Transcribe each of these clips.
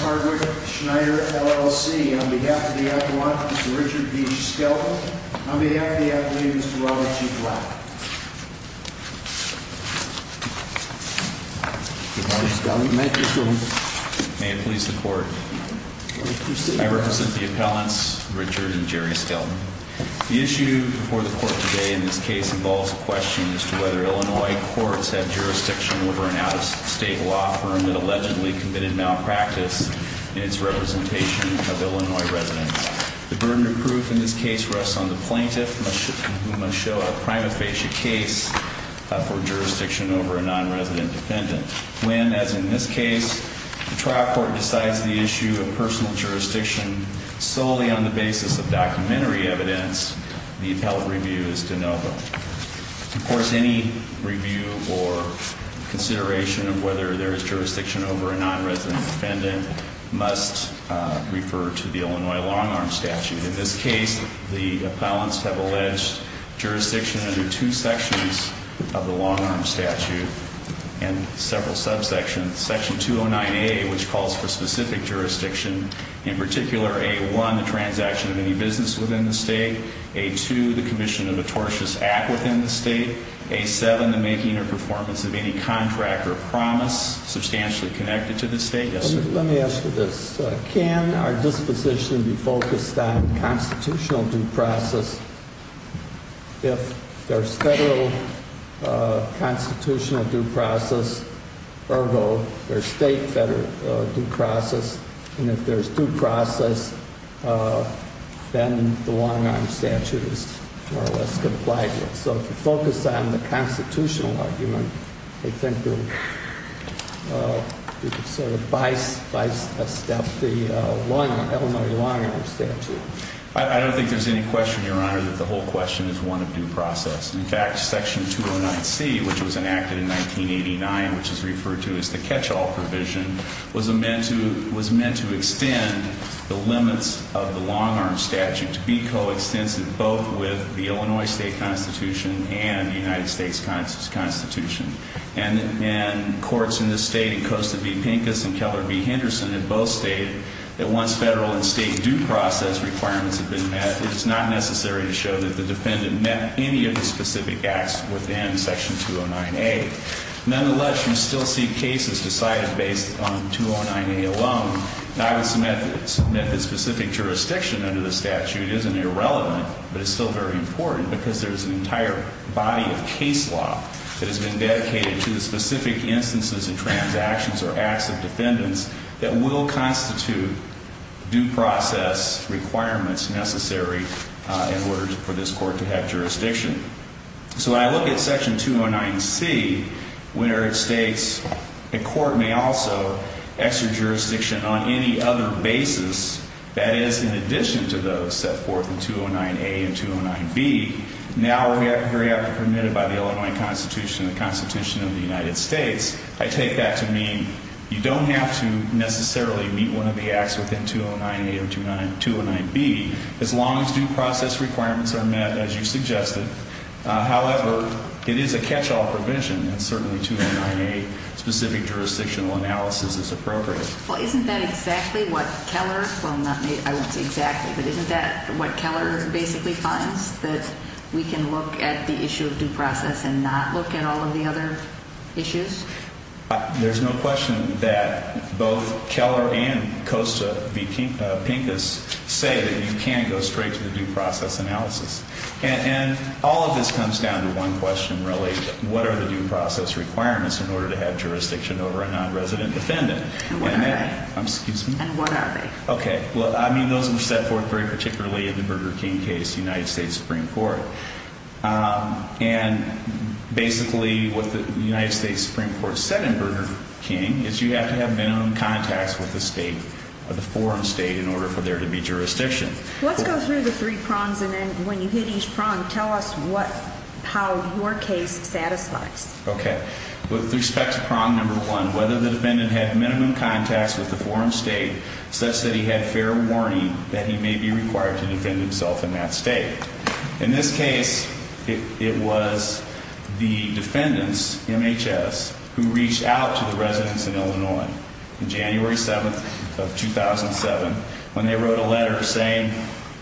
Hardwick, Schneider, LLC. On behalf of the appellant, Mr. Richard B. Skelton. On behalf of the appellant, Mr. Robert G. Black. Mr. Skelton, you may proceed. May it please the court. I represent the appellants, Richard and Jerry Skelton. The issue before us today is a question as to whether Illinois courts have jurisdiction over an out-of-state law firm that allegedly committed malpractice in its representation of Illinois residents. The burden of proof in this case rests on the plaintiff, who must show a prima facie case for jurisdiction over a non-resident defendant. When, as in this case, the trial court decides the issue of personal jurisdiction solely on the basis of documentary evidence, the appellate review is de novo. Of course, any review or consideration of whether there is jurisdiction over a non-resident defendant must refer to the Illinois long-arm statute. In this case, the appellants have alleged jurisdiction under two sections of the long-arm statute and several subsections. Section 209A, which calls for specific jurisdiction, in section 209A2, the commission of the tortious act within the state, A7, the making or performance of any contract or promise substantially connected to the state. Yes, sir. Let me ask you this. Can our disposition be focused on constitutional due process? If there's federal constitutional due process, ergo, there's state federal due process, and if there's due process, then the long-arm statute is more or less complied with. So if you focus on the constitutional argument, I think you can sort of bisect the Illinois long-arm statute. I don't think there's any question, Your Honor, that the whole question is one of due process. In fact, section 209C, which was enacted in 1989, which is referred to as the catch-all provision, was meant to extend the limits of the long-arm statute to be coextensive both with the Illinois state constitution and the United States constitution. And courts in this state, in Costa v. Pincus and Keller v. Henderson in both states, that once federal and state due process requirements have been met, it's not necessary to show that the defendant met any of the specific acts within section 209A. Nonetheless, you still see cases decided based on 209A alone, not with some methods. Method-specific jurisdiction under the statute isn't irrelevant, but it's still very important because there's an entire body of case law that has been dedicated to the specific instances and transactions or acts of defendants that will constitute due process requirements necessary in order for this court to have jurisdiction. So when I look at section 209C, where it states a court may also exert jurisdiction on any other basis that is in addition to those set forth in 209A and 209B, now very aptly permitted by the Illinois constitution and the constitution of the United States, I take that to mean you don't have to necessarily meet one of the acts within 209A or 209B, as long as due process requirements are met, as you suggested. However, it is a catch-all provision, and certainly 209A specific jurisdictional analysis is appropriate. Well, isn't that exactly what Keller, well, not, I won't say exactly, but isn't that what Keller basically finds, that we can look at the issue of due process and not look at all of the other issues? There's no question that both Keller and Costa v. Pincus say that you can go straight to the due process analysis. And all of this comes down to one question, really, what are the due process requirements in order to have jurisdiction over a non-resident defendant? And what are they? Excuse me? And what are they? Okay, well, I mean, those are set forth very particularly in the Burger King case, United States Supreme Court setting Burger King, is you have to have minimum contacts with the state, or the foreign state, in order for there to be jurisdiction. Let's go through the three prongs, and then when you hit each prong, tell us what, how your case satisfies. Okay. With respect to prong number one, whether the defendant had minimum contacts with the foreign state, such that he had fair warning that he may be required to defend himself in that state. In this case, it was the defendants, MHS, who reached out to the residents in Illinois on January 7th of 2007 when they wrote a letter saying,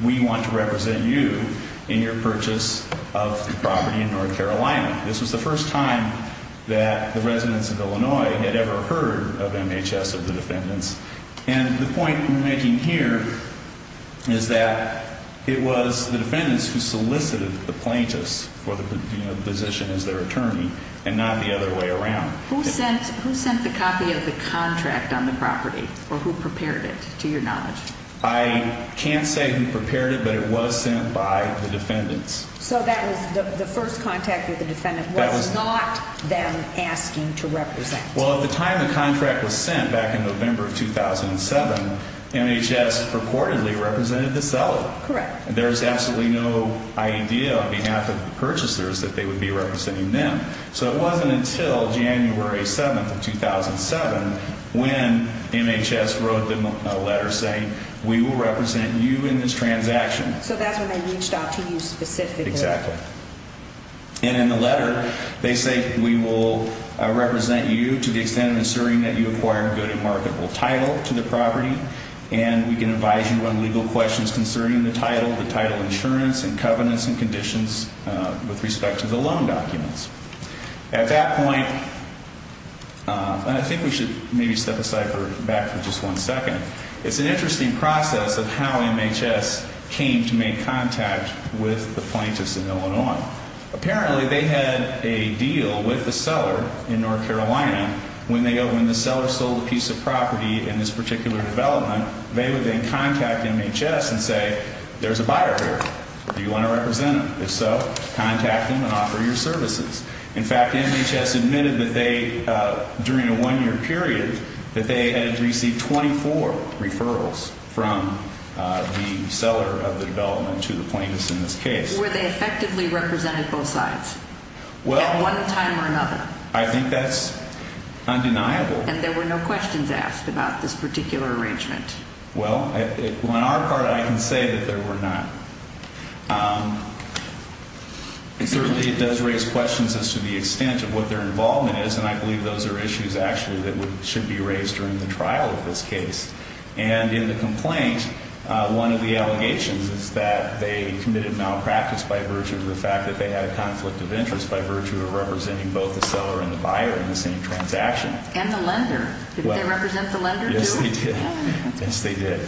we want to represent you in your purchase of property in North Carolina. This was the first time that the residents of Illinois had ever heard of MHS, of the defendants. And the point I'm trying to make here is that it was the defendants who solicited the plaintiffs for the position as their attorney, and not the other way around. Who sent the copy of the contract on the property, or who prepared it, to your knowledge? I can't say who prepared it, but it was sent by the defendants. So that was the first contact with the defendant was not them asking to represent. Well, at the time the contract was sent, back in November of 2007, MHS purportedly represented the seller. Correct. There's absolutely no idea on behalf of the purchasers that they would be representing them. So it wasn't until January 7th of 2007 when MHS wrote them a letter saying, we will represent you in this transaction. So that's when they reached out to you specifically. Exactly. And in the letter they say, we will represent you to the extent of assuring that you acquire a good and marketable title to the property, and we can advise you on legal questions concerning the title, the title insurance, and covenants and conditions with respect to the loan documents. At that point, and I think we should maybe step aside back for just one second, it's an interesting process of how MHS came to make contact with the plaintiffs in Illinois. Apparently they had a deal with the seller in North Carolina. When the seller sold a piece of property in this particular development, they would then contact MHS and say, there's a buyer here. Do you want to represent him? If so, contact him and offer your services. In fact, MHS admitted that they, during a one-year period, that they had received 24 referrals from the seller of the development to the plaintiffs in this case. Were they effectively represented both sides at one time or another? I think that's undeniable. And there were no questions asked about this particular arrangement? Well, on our part, I can say that there were not. Certainly it does raise questions as to the extent of what their involvement is, and I believe those are issues actually that should be raised during the trial of this case. And in the complaint, one of the allegations is that they committed malpractice by virtue of the fact that they had a conflict of interest by virtue of representing both the seller and the buyer in the same transaction. And the lender. Did they represent the lender too? Yes, they did.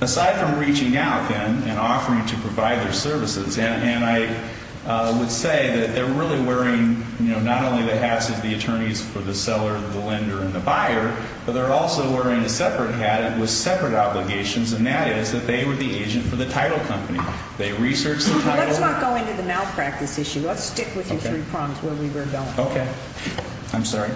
Aside from reaching out then and offering to provide their services, and I would say that they're really wearing, you know, not only the hats of the attorneys for the seller, the lender, and the buyer, but they're also wearing a separate hat with separate obligations, and that is that they were the agent for the title company. They researched the title. Let's not go into the malpractice issue. Let's stick with your three prongs where we were going. Okay. I'm sorry.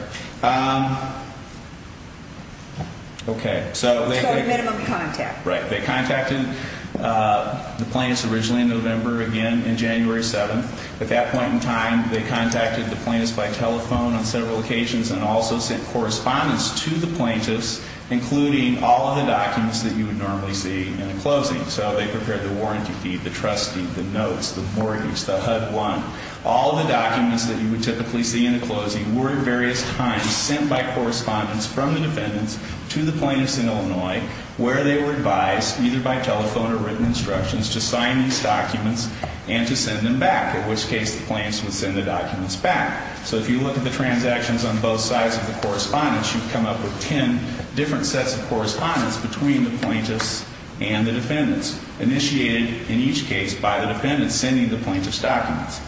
Okay. So they So a minimum contact. Right. They contacted the plaintiffs originally in November again in January 7th. At that point in time, they contacted the plaintiffs by telephone on several occasions and also sent correspondence to the plaintiffs, including all of the documents that you would normally see in a closing. So they prepared the warranty fee, the trustee, the notes, the mortgage, the HUD-1. All the documents that you would typically see in a closing were at various times sent by correspondence from the defendants to the plaintiffs in Illinois where they were advised, either by telephone or written instructions, to sign these documents and to send them back, in which case the plaintiffs would send the documents back. So if you look at the transactions on both sides of the correspondence, you'd come up with ten different sets of correspondence between the plaintiffs and the defendants, initiated in each case by the defendants sending the plaintiffs documents.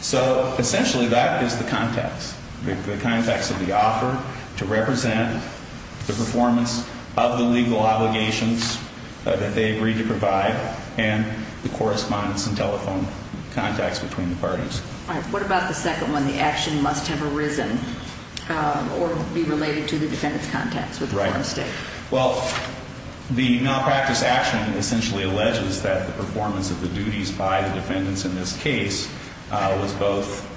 So essentially that is the context, the context of the offer to represent the performance of the legal obligations that they agreed to provide and the correspondence and telephone contacts between the parties. All right. What about the second one, the action must have arisen or be related to the defendant's contacts with the foreign state? Right. Well, the malpractice action essentially alleges that the performance of the duties by the defendants in this case was both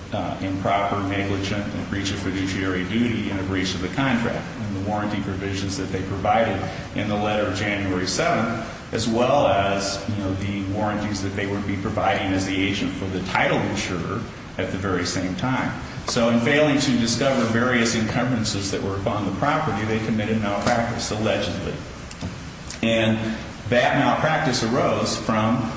improper, negligent in breach of fiduciary duty and a breach of the contract and the warranty provisions that they provided in the letter of January 7th, as well as, you know, the warranties that they would be providing as the agent for the title insurer at the very same time. So in failing to discover various encumbrances that were upon the property, they committed malpractice allegedly. And that malpractice arose from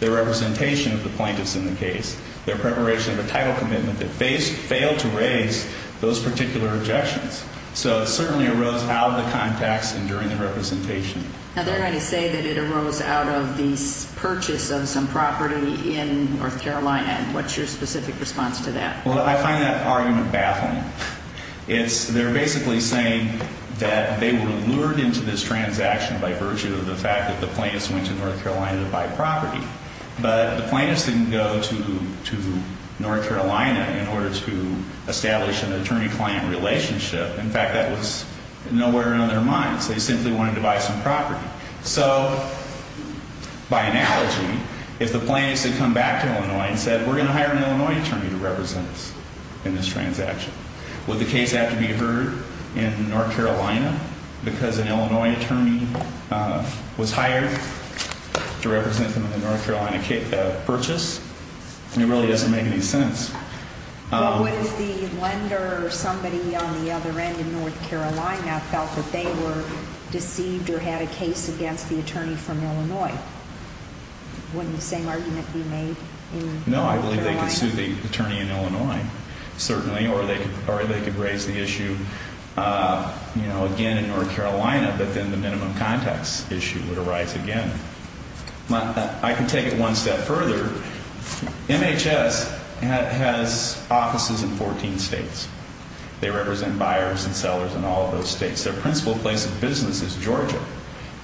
the representation of the plaintiffs in the case, their preparation of a title commitment that failed to raise those particular objections. So it certainly arose out of the context and during the representation. Now, they're going to say that it arose out of the purchase of some property in North Carolina. And what's your specific response to that? Well, I find that argument baffling. It's they're basically saying that they were lured into this transaction by virtue of the fact that the plaintiffs went to North Carolina to buy property. But the plaintiffs didn't go to North Carolina in order to establish an attorney-client relationship. In fact, that was nowhere on their minds. They simply wanted to buy some property. So by analogy, if the plaintiffs had come back to Illinois and said, we're going to hire an Illinois attorney to represent us in this transaction, would the case have to be heard in North Carolina because an Illinois attorney was hired to represent them in the North Carolina purchase? And it really doesn't make any sense. Well, what if the lender or somebody on the other end in North Carolina felt that they were deceived or had a case against the attorney from Illinois? Wouldn't the same argument be made in North Carolina? No, I believe they could sue the attorney in Illinois, certainly, or they could raise the issue again in North Carolina, but then the minimum context issue would arise again. I can take it one step further. MHS has offices in 14 states. They represent buyers and sellers in all of those states. Their principal place of business is Georgia.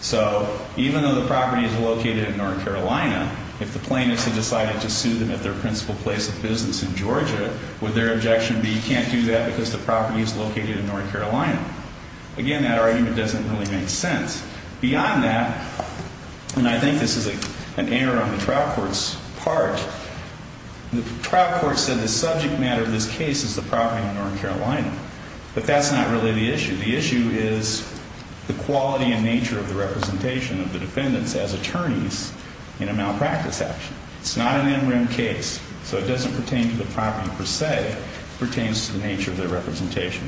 So even though the property is located in North Carolina, if the plaintiffs had decided to sue them at their principal place of business in Georgia, would their objection be, you can't do that because the property is located in North Carolina? Again, that argument doesn't really make sense. Beyond that, and I think this is an error on the trial court's part, the trial court said the subject matter of this case is the property in North Carolina. But that's not really the issue. The issue is the quality and nature of the representation of the defendants as attorneys in a malpractice action. It's not an interim case, so it doesn't pertain to the property per se. It pertains to the nature of their representation.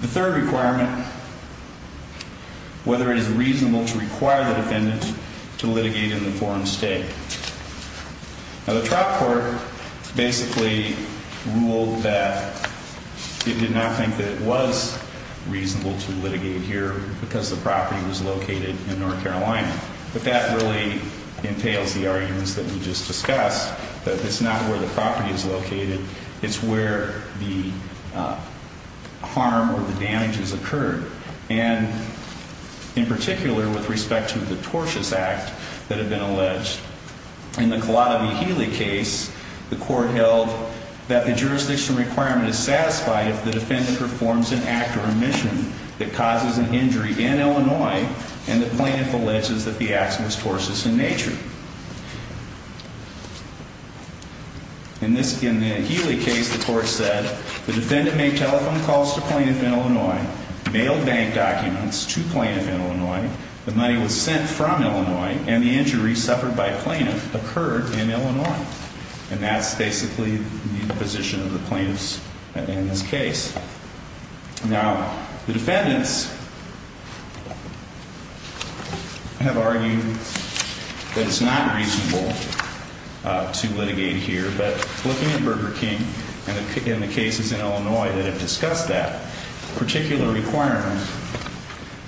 The third requirement, whether it is reasonable to require the defendant to litigate in the foreign state. Now, the trial court basically ruled that it did not think that it was reasonable to litigate here because the property was located in North Carolina. But that really entails the arguments that we just discussed, that it's not where the property is located, it's where the harm or the damages occurred. And in particular, with respect to the tortious act that had been alleged. In the Cullata v. Healy case, the court held that the jurisdiction requirement is satisfied if the defendant performs an act or omission that causes an injury in Illinois and the plaintiff alleges that the act was tortious in nature. In the Healy case, the court said the defendant made telephone calls to plaintiff in Illinois, mailed bank documents to plaintiff in Illinois, the money was sent from Illinois, and the injury suffered by plaintiff occurred in Illinois. And that's basically the position of the plaintiffs in this case. Now, the defendants have argued that it's not reasonable to litigate here. But looking at Burger King and the cases in Illinois that have discussed that particular requirement,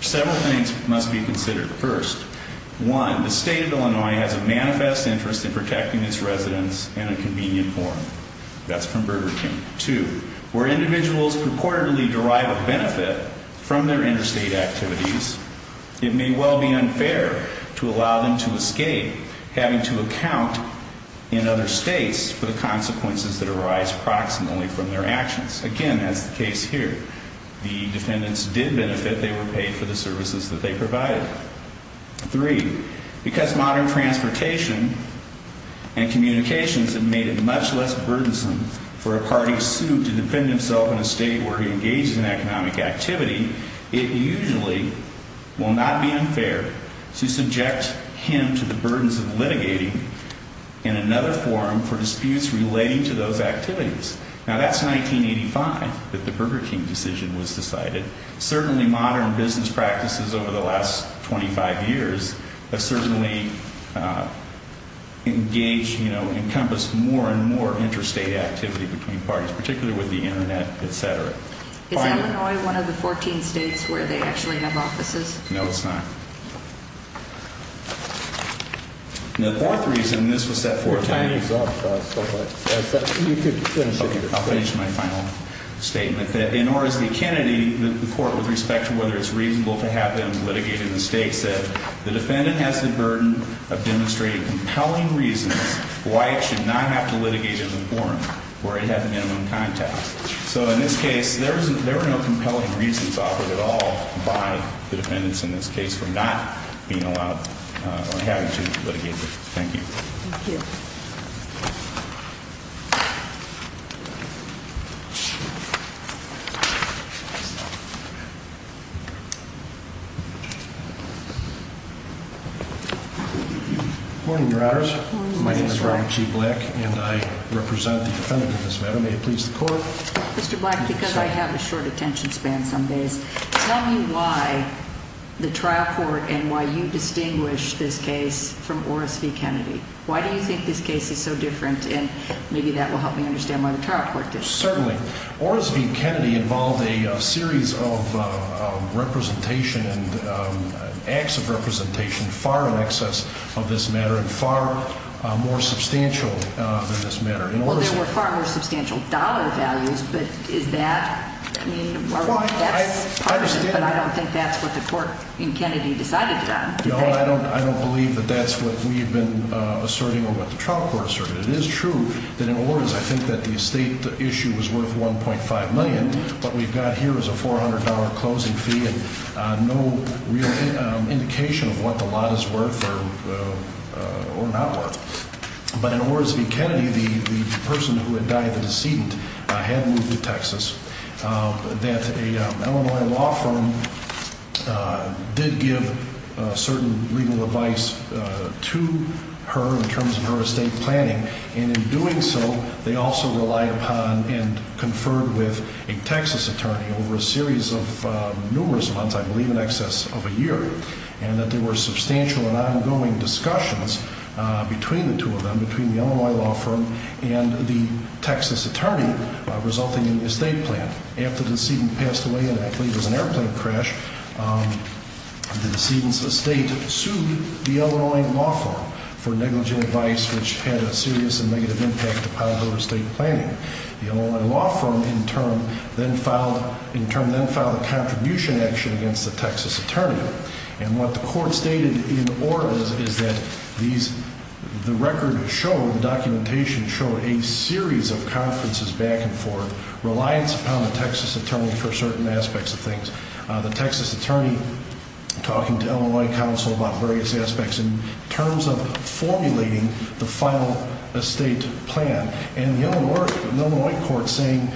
several things must be considered. First, one, the state of Illinois has a manifest interest in protecting its residents in a convenient form. That's from Burger King. Two, where individuals purportedly derive a benefit from their interstate activities, it may well be unfair to allow them to escape having to account in other states for the consequences that arise approximately from their actions. Again, that's the case here. The defendants did benefit. They were paid for the services that they provided. Three, because modern transportation and communications have made it much less burdensome for a party sued to defend himself in a state where he engages in economic activity, it usually will not be unfair to subject him to the charges. Now, that's 1985 that the Burger King decision was decided. Certainly modern business practices over the last 25 years have certainly engaged, encompassed more and more interstate activity between parties, particularly with the Internet, et cetera. Is Illinois one of the 14 states where they actually have offices? No, it's not. The fourth reason, and this was set forth in the I'll finish my final statement, that in Orris v. Kennedy, the court, with respect to whether it's reasonable to have him litigate in the state, said the defendant has the burden of demonstrating compelling reasons why it should not have to litigate in the forum where it had the minimum contact. So in this case, there were no reasons why it should not have to litigate. Thank you. Thank you. Morning, Your Honors. My name is Robert G. Black, and I represent the defendant in this matter. May it please the court? Mr. Black, because I have a short attention span some days, tell me why the trial court and why you distinguish this case from Orris v. Kennedy. Why do you think this case is so different? And maybe that will help me understand why the trial court did. Certainly. Orris v. Kennedy involved a series of representation and acts of representation far in excess of this matter and far more substantial than this matter. Well, there were far more substantial dollar values, but is that, I mean, that's partisan, but I don't think that's what the court in Kennedy decided to do. No, I don't believe that that's what we've been asserting or what the trial court asserted. It is true that in Orris, I think that the estate issue was worth $1.5 million. What we've got here is a $400 closing fee and no real indication of what the lot is worth or not worth. But in Orris v. Kennedy, the person who had died, the decedent, had moved to Texas, that a Illinois law firm did give certain legal advice to her in terms of her estate planning. And in doing so, they also relied upon and conferred with a Texas attorney over a series of numerous months, I believe in excess of a year, and that there were substantial and ongoing discussions between the two of them, between the Illinois law firm and the Texas attorney, resulting in the estate plan. After the decedent passed away, and I believe it was an airplane crash, the decedent's estate sued the Illinois law firm for negligent advice which had a serious and negative impact upon her estate planning. The Illinois law firm in turn then filed a contribution action against the Texas attorney. And what the court stated in Orris is that the record showed, the documentation showed a series of conferences back and forth, reliance upon the Texas attorney for certain aspects of things. The Texas attorney talking to Illinois counsel about various aspects in terms of formulating the final estate plan. And the Illinois court saying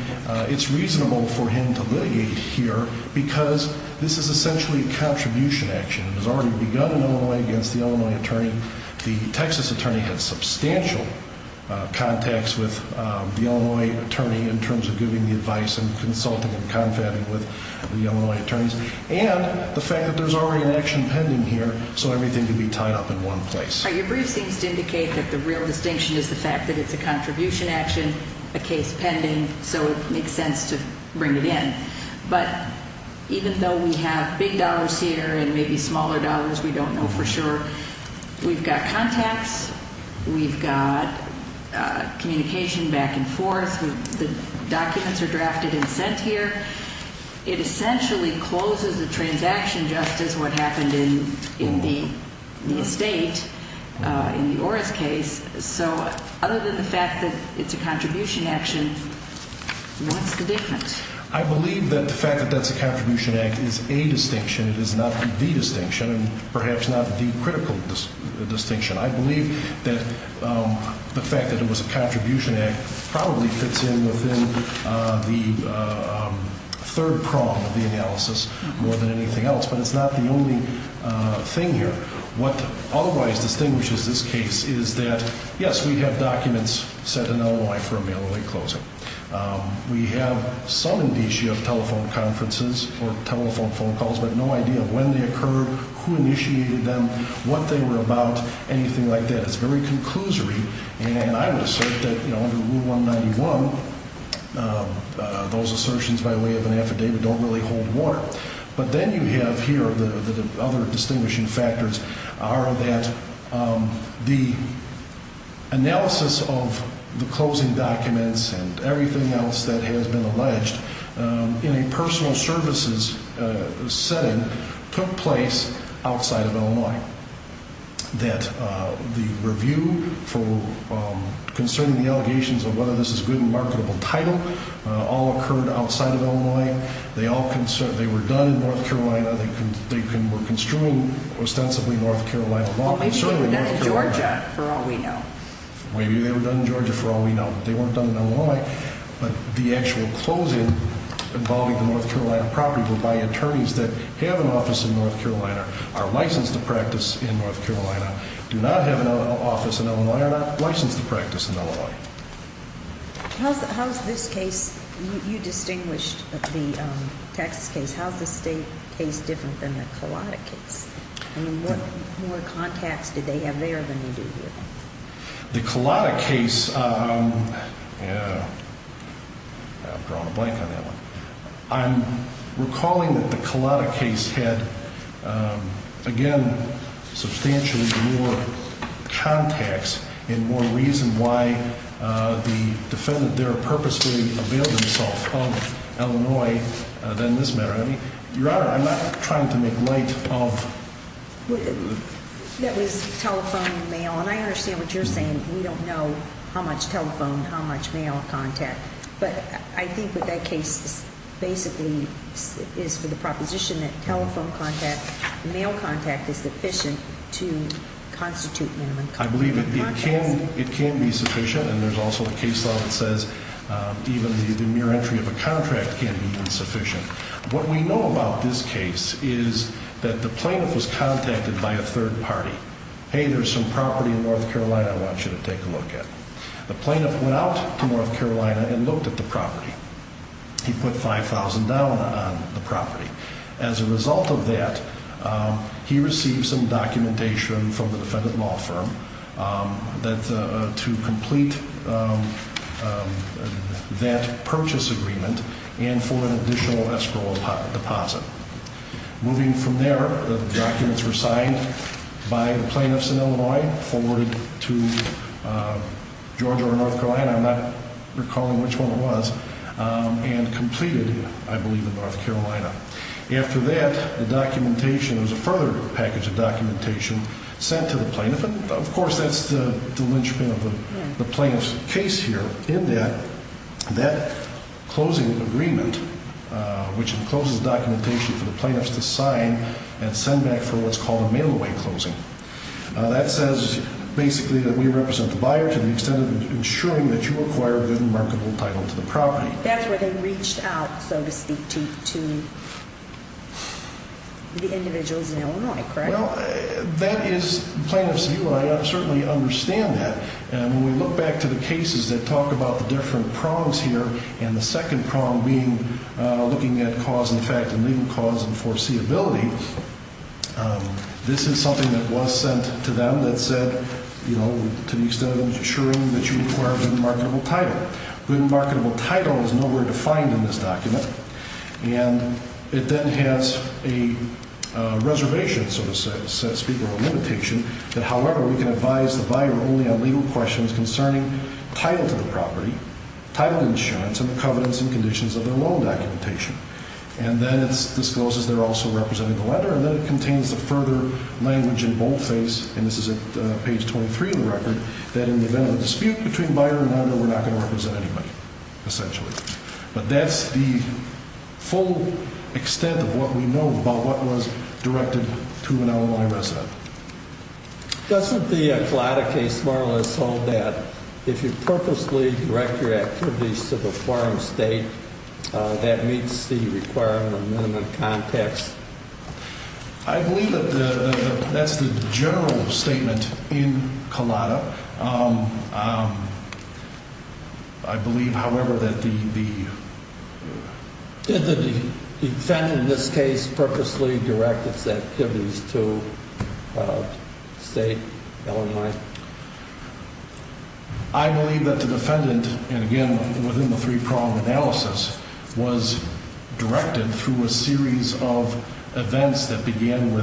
it's reasonable for him to litigate here because this is essentially a contribution action. It was already begun in Illinois against the Illinois attorney. The Texas attorney had substantial contacts with the Illinois attorney in terms of giving the advice and consulting and confab with the Illinois attorney. So I think that that idea of the fact that it's a contribution action, a case pending, so it makes sense to bring it in. But even though we have big dollars here and maybe smaller dollars, we don't know for sure. We've got contacts, we've got communication back and forth. The documents are drafted and sent here. It essentially closes the transaction just as what happened in the estate, in the Orris case. So other than the fact that it's a contribution action, what's the difference? I believe that the fact that that's a contribution act is a distinction. It is not the distinction and perhaps not the critical distinction. I believe that the fact that it was a contribution act probably fits in within the third prong of the analysis more than anything else. But it's not the only thing here. What otherwise distinguishes this case is that, yes, we have documents sent to Illinois for a mail-only closing. We have some indicia of telephone conferences or telephone phone calls, but no idea of when they occurred, who initiated them, what they were about, anything like that. It's very conclusory and I would assert that under Rule 191, those assertions by way of an affidavit don't really hold water. But then you have here the other distinguishing factors are that the analysis of the closing documents and everything else that has been alleged in a personal services setting took place outside of Illinois. That the review concerning the allegations of whether this is a good and marketable title all occurred outside of Illinois. They were done in North Carolina. They were construed ostensibly in North Carolina. Maybe they were done in Georgia for all we know. Maybe they were done in Georgia for all we know. They weren't done in Illinois, but the actual closing involving the North Carolina property were by attorneys that have an office in North Carolina, are licensed to practice in North Carolina, do not have an office in Illinois, are not licensed to practice in Illinois. How's this case, you distinguished the Texas case. How's the state case different than the Cullata case? I mean, what more contacts did they have there than you do here? The Cullata case, I've drawn a blank on that one. I'm recalling that the Cullata case had, again, substantially more contacts and more reason why the defendant there purposely availed himself of Illinois than this matter. Your Honor, I'm not trying to make light of That was telephone and mail, and I understand what you're saying. We don't know how much telephone, how much mail contact, but I think that that case basically is for the proposition that telephone contact, mail contact is sufficient to constitute minimum contact. I believe it can be sufficient, and there's also a case law that says even the mere entry of a contract can be insufficient. What we know about this case is that the plaintiff was contacted by a third party. Hey, there's some property in North Carolina I want you to take a look at. The plaintiff went out to North Carolina and looked at the property. He put $5,000 on the property. As a result of that, he received some money for that purchase agreement and for an additional escrow deposit. Moving from there, the documents were signed by the plaintiffs in Illinois, forwarded to Georgia or North Carolina. I'm not recalling which one it was, and completed, I believe, in North Carolina. After that, the documentation, there was a further package of case here in that closing agreement, which encloses documentation for the plaintiffs to sign and send back for what's called a mail-away closing. That says basically that we represent the buyer to the extent of ensuring that you acquire a good and remarkable title to the property. That's where they reached out, so to speak, to the individuals in Illinois, correct? Well, that is plaintiff's view, and I certainly understand that. When we look back to the cases that talk about the different prongs here, and the second prong being looking at cause and effect and legal cause and foreseeability, this is something that was sent to them that said, you know, to the extent of ensuring that you acquire a good and remarkable title. Good and remarkable title is nowhere defined in this document. And it then has a reservation, so to speak, or a limitation that, however, we can advise the buyer only on legal questions concerning title to the property, title insurance, and the covenants and conditions of their loan documentation. And then it discloses they're also representing the lender, and then it contains the further language in boldface, and this is at page 23 of the record, that in the event of a dispute between buyer and lender, we're not going to represent anybody, essentially. But that's the full extent of what we know about what was directed to an Illinois resident. Doesn't the Collada case more or less hold that if you purposely direct your activities to the foreign state, that meets the requirement in the context? I believe that that's the general statement in Collada. I believe, however, that the... Did the defendant in this case purposely direct its activities to state Illinois? I believe that the defendant, and again, within the three-pronged analysis, was directed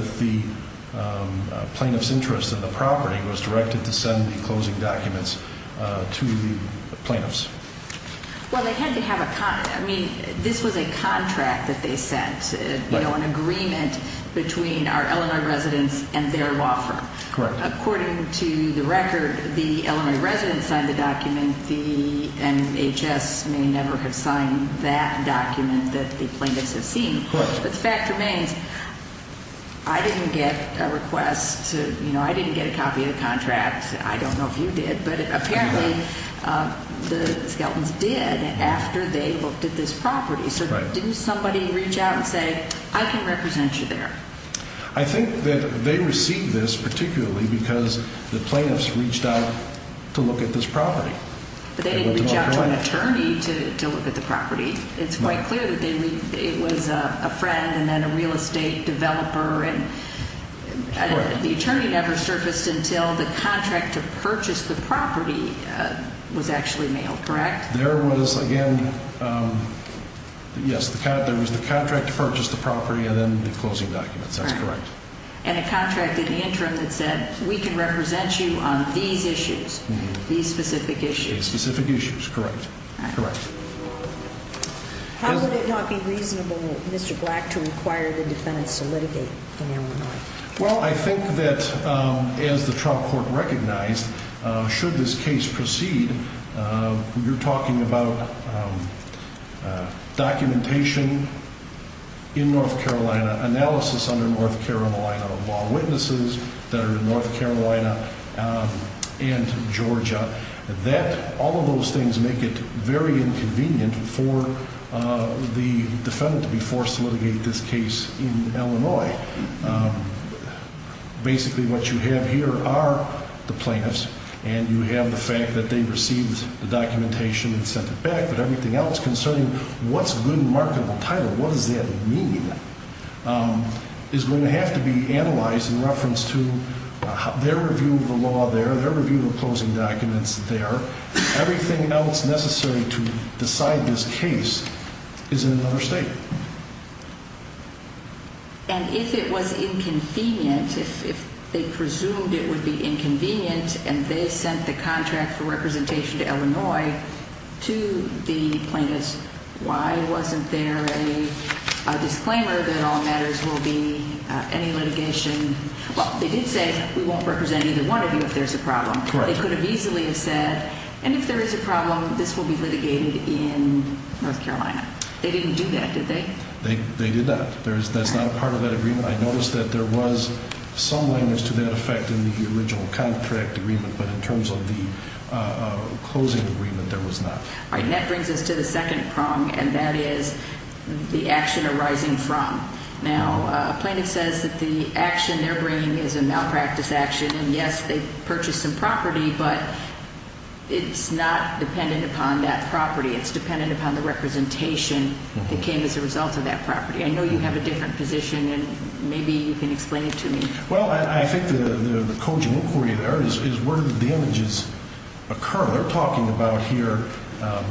to plaintiff's interest in the property, was directed to send the closing documents to the plaintiffs. This was a contract that they sent, an agreement between our Illinois residents and their law firm. According to the record, the Illinois residents signed the document. The NHS may never have signed that document that the plaintiffs have seen. But the fact remains, I didn't get a request to, you know, I didn't get a copy of the contract. I don't know if you did, but apparently the Skelton's did after they looked at this property. So didn't somebody reach out and say, I can represent you there? I think that they received this particularly because the plaintiffs reached out to look at this property. But they didn't reach out to an attorney to look at the property. It's quite clear that it was a friend and then a real estate developer. The attorney never surfaced until the contract to purchase the property was actually mailed, correct? Yes, there was the contract to purchase the property and then the closing documents, that's correct. And a contract in the interim that said, we can represent you on these issues, these specific issues. Specific issues, correct. How would it not be reasonable, Mr. Black, to require the defendants to litigate in Illinois? Well, I think that as the Trump court recognized, should this case proceed, you're talking about documentation in North Carolina, analysis under North Carolina of all witnesses that are in North Carolina and Georgia. All of those things make it very inconvenient for the defendant to be forced to litigate this case in Illinois. Basically what you have here are the plaintiffs and you have the fact that they received the documentation and sent it back, but everything else concerning what's a good marketable title, what does that mean, is going to have to be analyzed in reference to their review of the law there, their review of the closing documents there. Everything else necessary to decide this case is in another state. And if it was inconvenient, if they presumed it would be inconvenient and they sent the contract for representation to Illinois to the plaintiffs, why wasn't there a disclaimer that all matters will be any litigation? Well, they did say we won't represent either one of you if there's a problem. They could have easily have said, and if there is a problem, this will be litigated in North Carolina. They didn't do that, did they? They did not. That's not a part of that agreement. I noticed that there was some language to that effect in the original contract agreement, but in terms of the closing agreement, there was not. That brings us to the second prong, and that is the action arising from. Now, a plaintiff says that the action they're bringing is a malpractice action, and yes, they purchased some property, but it's not dependent upon that property. It's dependent upon the representation that came as a result of that property. I know you have a different position, and maybe you can explain it to me. Well, I think the cogent inquiry there is where the damages occur. They're talking about here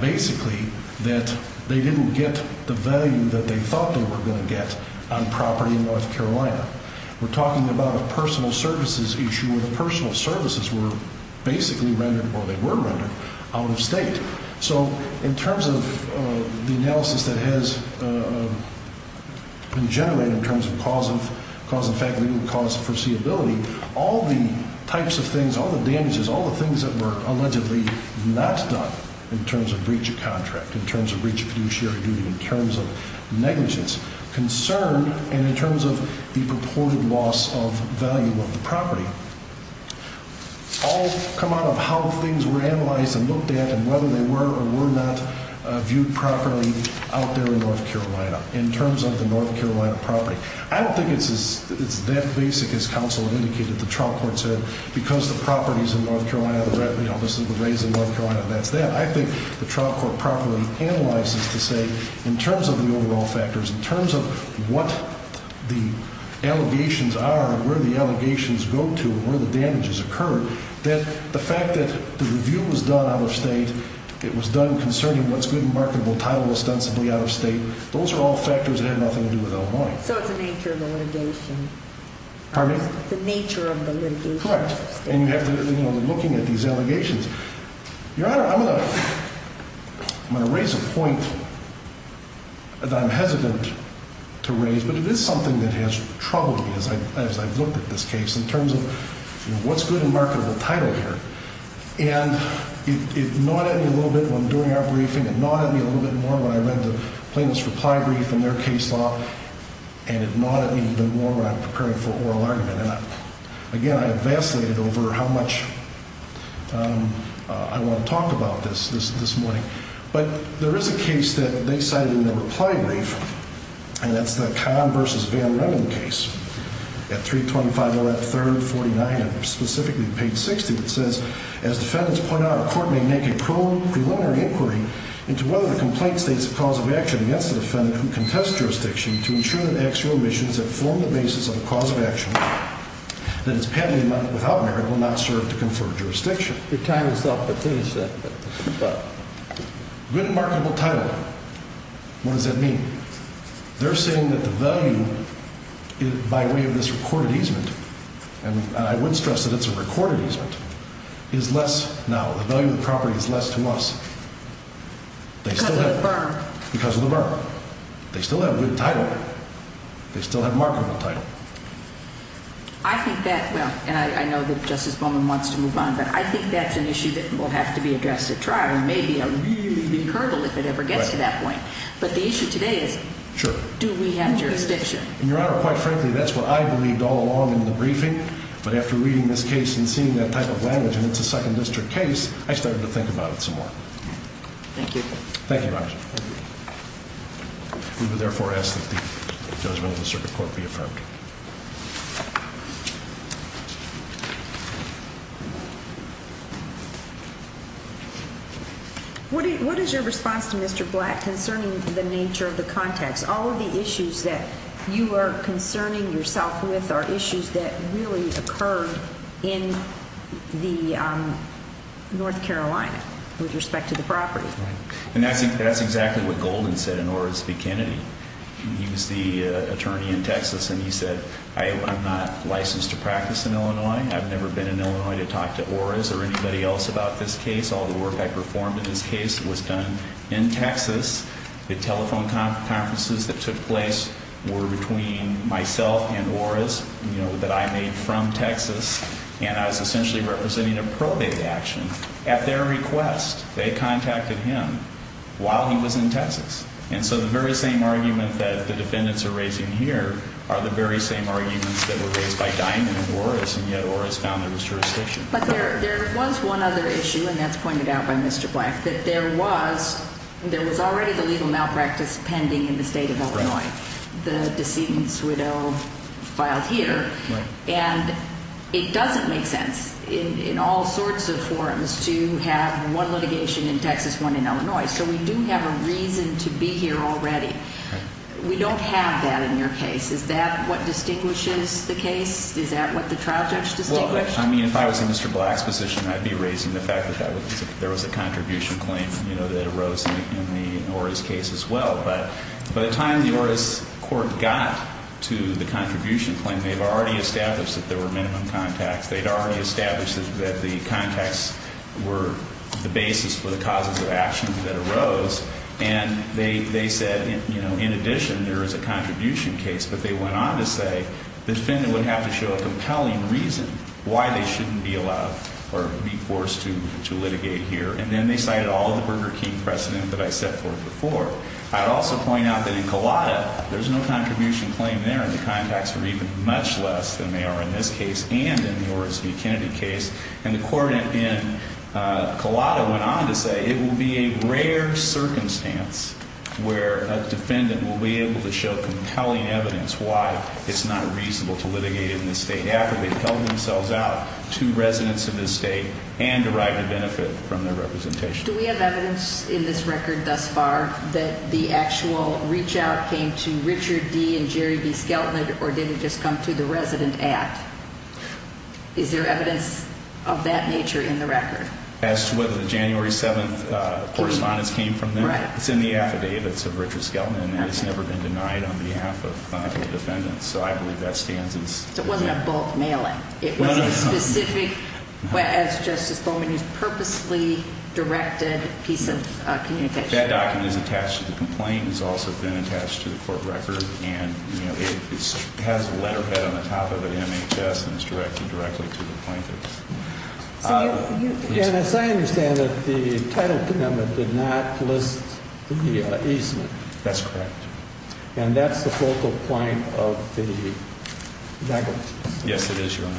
basically that they didn't get the value that they thought they were going to get on property in North Carolina. We're talking about a personal services issue where the personal services were basically rendered, or they were rendered, out of state. In terms of the analysis that has been generated in terms of cause and effect, legal cause, foreseeability, all the types of things, all the damages, all the things that were allegedly not done in terms of return and in terms of the purported loss of value of the property, all come out of how things were analyzed and looked at and whether they were or were not viewed properly out there in North Carolina in terms of the North Carolina property. I don't think it's that basic, as counsel indicated, the trial court said, because the property is in North Carolina, this is the raise in North Carolina, that's that. I think the trial court properly analyzes to say in terms of the overall factors, in terms of what the allegations are and where the allegations go to and where the damages occur, that the fact that the review was done out of state, it was done concerning what's good and marketable title ostensibly out of state, those are all factors that have nothing to do with El Moine. So it's the nature of the litigation. Pardon me? It's the nature of the litigation. Correct. And you have to, you know, looking at these allegations, Your Honor, I'm going to raise a point that I'm hesitant to raise, but it is something that has troubled me as I've looked at this case in terms of what's good and marketable title here. And it gnawed at me a little bit when doing our briefing. It gnawed at me a little bit more when I read the plaintiff's reply brief and their case law. And it gnawed at me even more when I'm preparing for oral argument. And again, I vacillated over how much I want to talk about this, this morning. But there is a case that they cited in the reply brief, and that's the Kahn v. Van Remen case at 325 L.F. 3rd, 49, and specifically page 60 that says, as defendants point out, a court may make a pro preliminary inquiry into whether the complaint states a cause of action against the defendant who contests jurisdiction to ensure that the actual omissions that form the basis of a cause of action that is pending without merit will not serve to confer jurisdiction. Your time is up, but please. Good and marketable title. What does that mean? They're saying that the value by way of this recorded easement, and I would stress that it's a recorded easement, is much less to us. Because of the burn. They still have good title. They still have marketable title. I think that, well, and I know that Justice Bowman wants to move on, but I think that's an issue that will have to be addressed at trial. It may be a really big hurdle if it ever gets to that point. But the issue today is, do we have jurisdiction? Your Honor, quite frankly, that's what I believed all along in the briefing. But after reading this case and seeing that type of language, and it's a second district case, I started to think about it some more. Thank you. Thank you, Your Honor. We would therefore ask that the judgment of the circuit court be affirmed. What is your response to Mr. Black concerning the nature of the context? All of the issues that you are concerning yourself with are issues that really occurred in North Carolina with respect to the property. And that's exactly what Golden said in Orris v. Kennedy. He was the attorney in Texas, and he said, I'm not licensed to practice in Illinois. I've never been in Illinois to talk to Orris or anybody else about this case. And I saw the work I performed in this case was done in Texas. The telephone conferences that took place were between myself and Orris, you know, that I made from Texas. And I was essentially representing a probate action. At their request, they contacted him while he was in Texas. And so the very same argument that the defendants are raising here are the very same arguments that were raised by dying in Orris, and yet Orris found there was jurisdiction. But there was one other issue, and that's pointed out by Mr. Black, that there was already the legal malpractice pending in the state of Illinois. The decedent's widow filed here. And it doesn't make sense in all sorts of forums to have one litigation in Texas, one in Illinois. So we do have a reason to be here already. We don't have that in your case. Is that what distinguishes the case? Is that what the trial judge distinguished? Well, I mean, if I was in Mr. Black's position, I'd be raising the fact that there was a contribution claim, you know, that arose in the Orris case as well. But by the time the Orris court got to the contribution claim, they'd already established that there were minimum contacts. They'd already established that the contacts were the basis for the causes of action that arose. And they said, you know, in addition, there is a contribution case. But they went on to say the defendant would have to show a compelling reason why they shouldn't be allowed or be forced to litigate here. And then they cited all the Burger King precedent that I set forth before. I'd also point out that in Cullata, there's no contribution claim there, and the contacts are even much less than they are in this case and in the Orris v. Kennedy case. And the court in Cullata went on to say it will be a rare circumstance where a defendant will be able to show compelling evidence why it's not reasonable to litigate in this state after they've held themselves out to residents of this state and derived a benefit from their representation. Do we have evidence in this record thus far that the actual reach-out came to Richard D. and Jerry B. Skelton, or did it just come to the resident act? Is there evidence of that nature in the record? As to whether the January 7th correspondence came from them, it's in the affidavits of Richard Skelton, and it's never been denied on behalf of the defendant. So I believe that stands as... So it wasn't a bulk mailing. It wasn't a specific, as Justice Bowman used, it's been attached to the court record, and it has a letterhead on the top of it, MHS, and it's directed directly to the plaintiff. And as I understand it, the title condemnment did not list the easement. That's correct. And that's the focal point of the negligence? Yes, it is, Your Honor.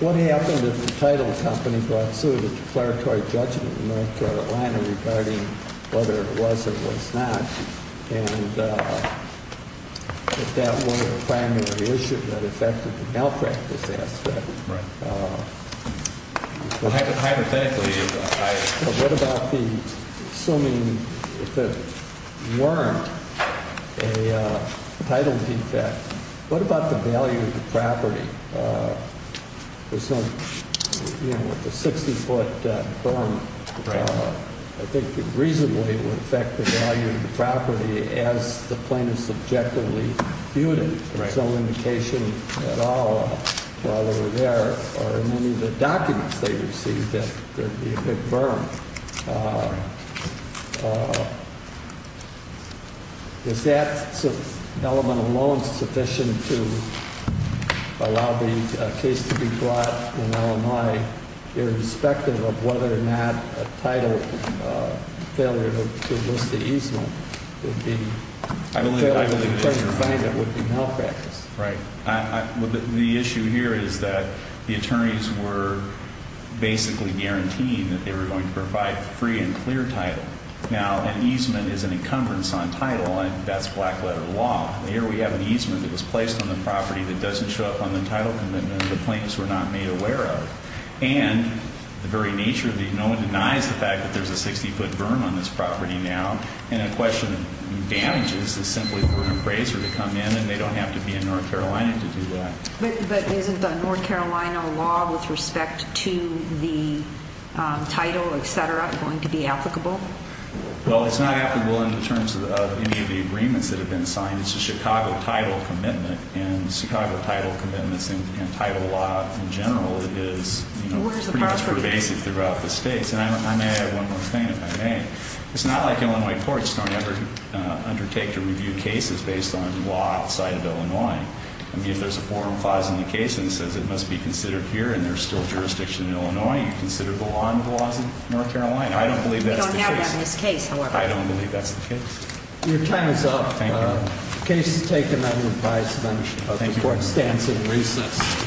What happened if the title company brought suit a declaratory judgment in North Carolina regarding whether it was or was not, and if that weren't a primary issue that affected the malpractice aspect? Right. Hypothetically, what about the assuming if it weren't a title defect, what about the value of the property? With the 60-foot burn, I think reasonably it would affect the value of the property as the plaintiff subjectively viewed it. There's no indication at all while they were there or in any of the documents they received that there'd be a big burn. Is that element alone sufficient to allow the case to be brought in Illinois irrespective of whether or not a title failure to list the easement would be a failure to the plaintiff finding it would be malpractice? Right. The issue here is that the attorneys were basically guaranteeing that they were going to provide free and clear title. Now, an easement is an encumbrance on title, and that's black-letter law. Here we have an easement that was placed on the property that doesn't show up on the title commitment and the plaintiffs were not made aware of. And the very nature of it, no one denies the fact that there's a 60-foot burn on this property now, and a question of damages is simply for an appraiser to come in, and they don't have to be in North Carolina to do that. But isn't the North Carolina law with respect to the title, etc., going to be applicable? Well, it's not applicable in terms of any of the agreements that have been signed. It's a Chicago title commitment, and Chicago title commitments and title law in general is pretty much pervasive throughout the states. And I may add one more thing, if I may. It's not like Illinois courts don't ever undertake to review cases based on law outside of Illinois. I mean, if there's a forum clause in the case that says it must be considered here and there's still jurisdiction in Illinois, you consider the law in the laws of North Carolina. I don't believe that's the case. We don't have that in this case, however. I don't believe that's the case. Thank you.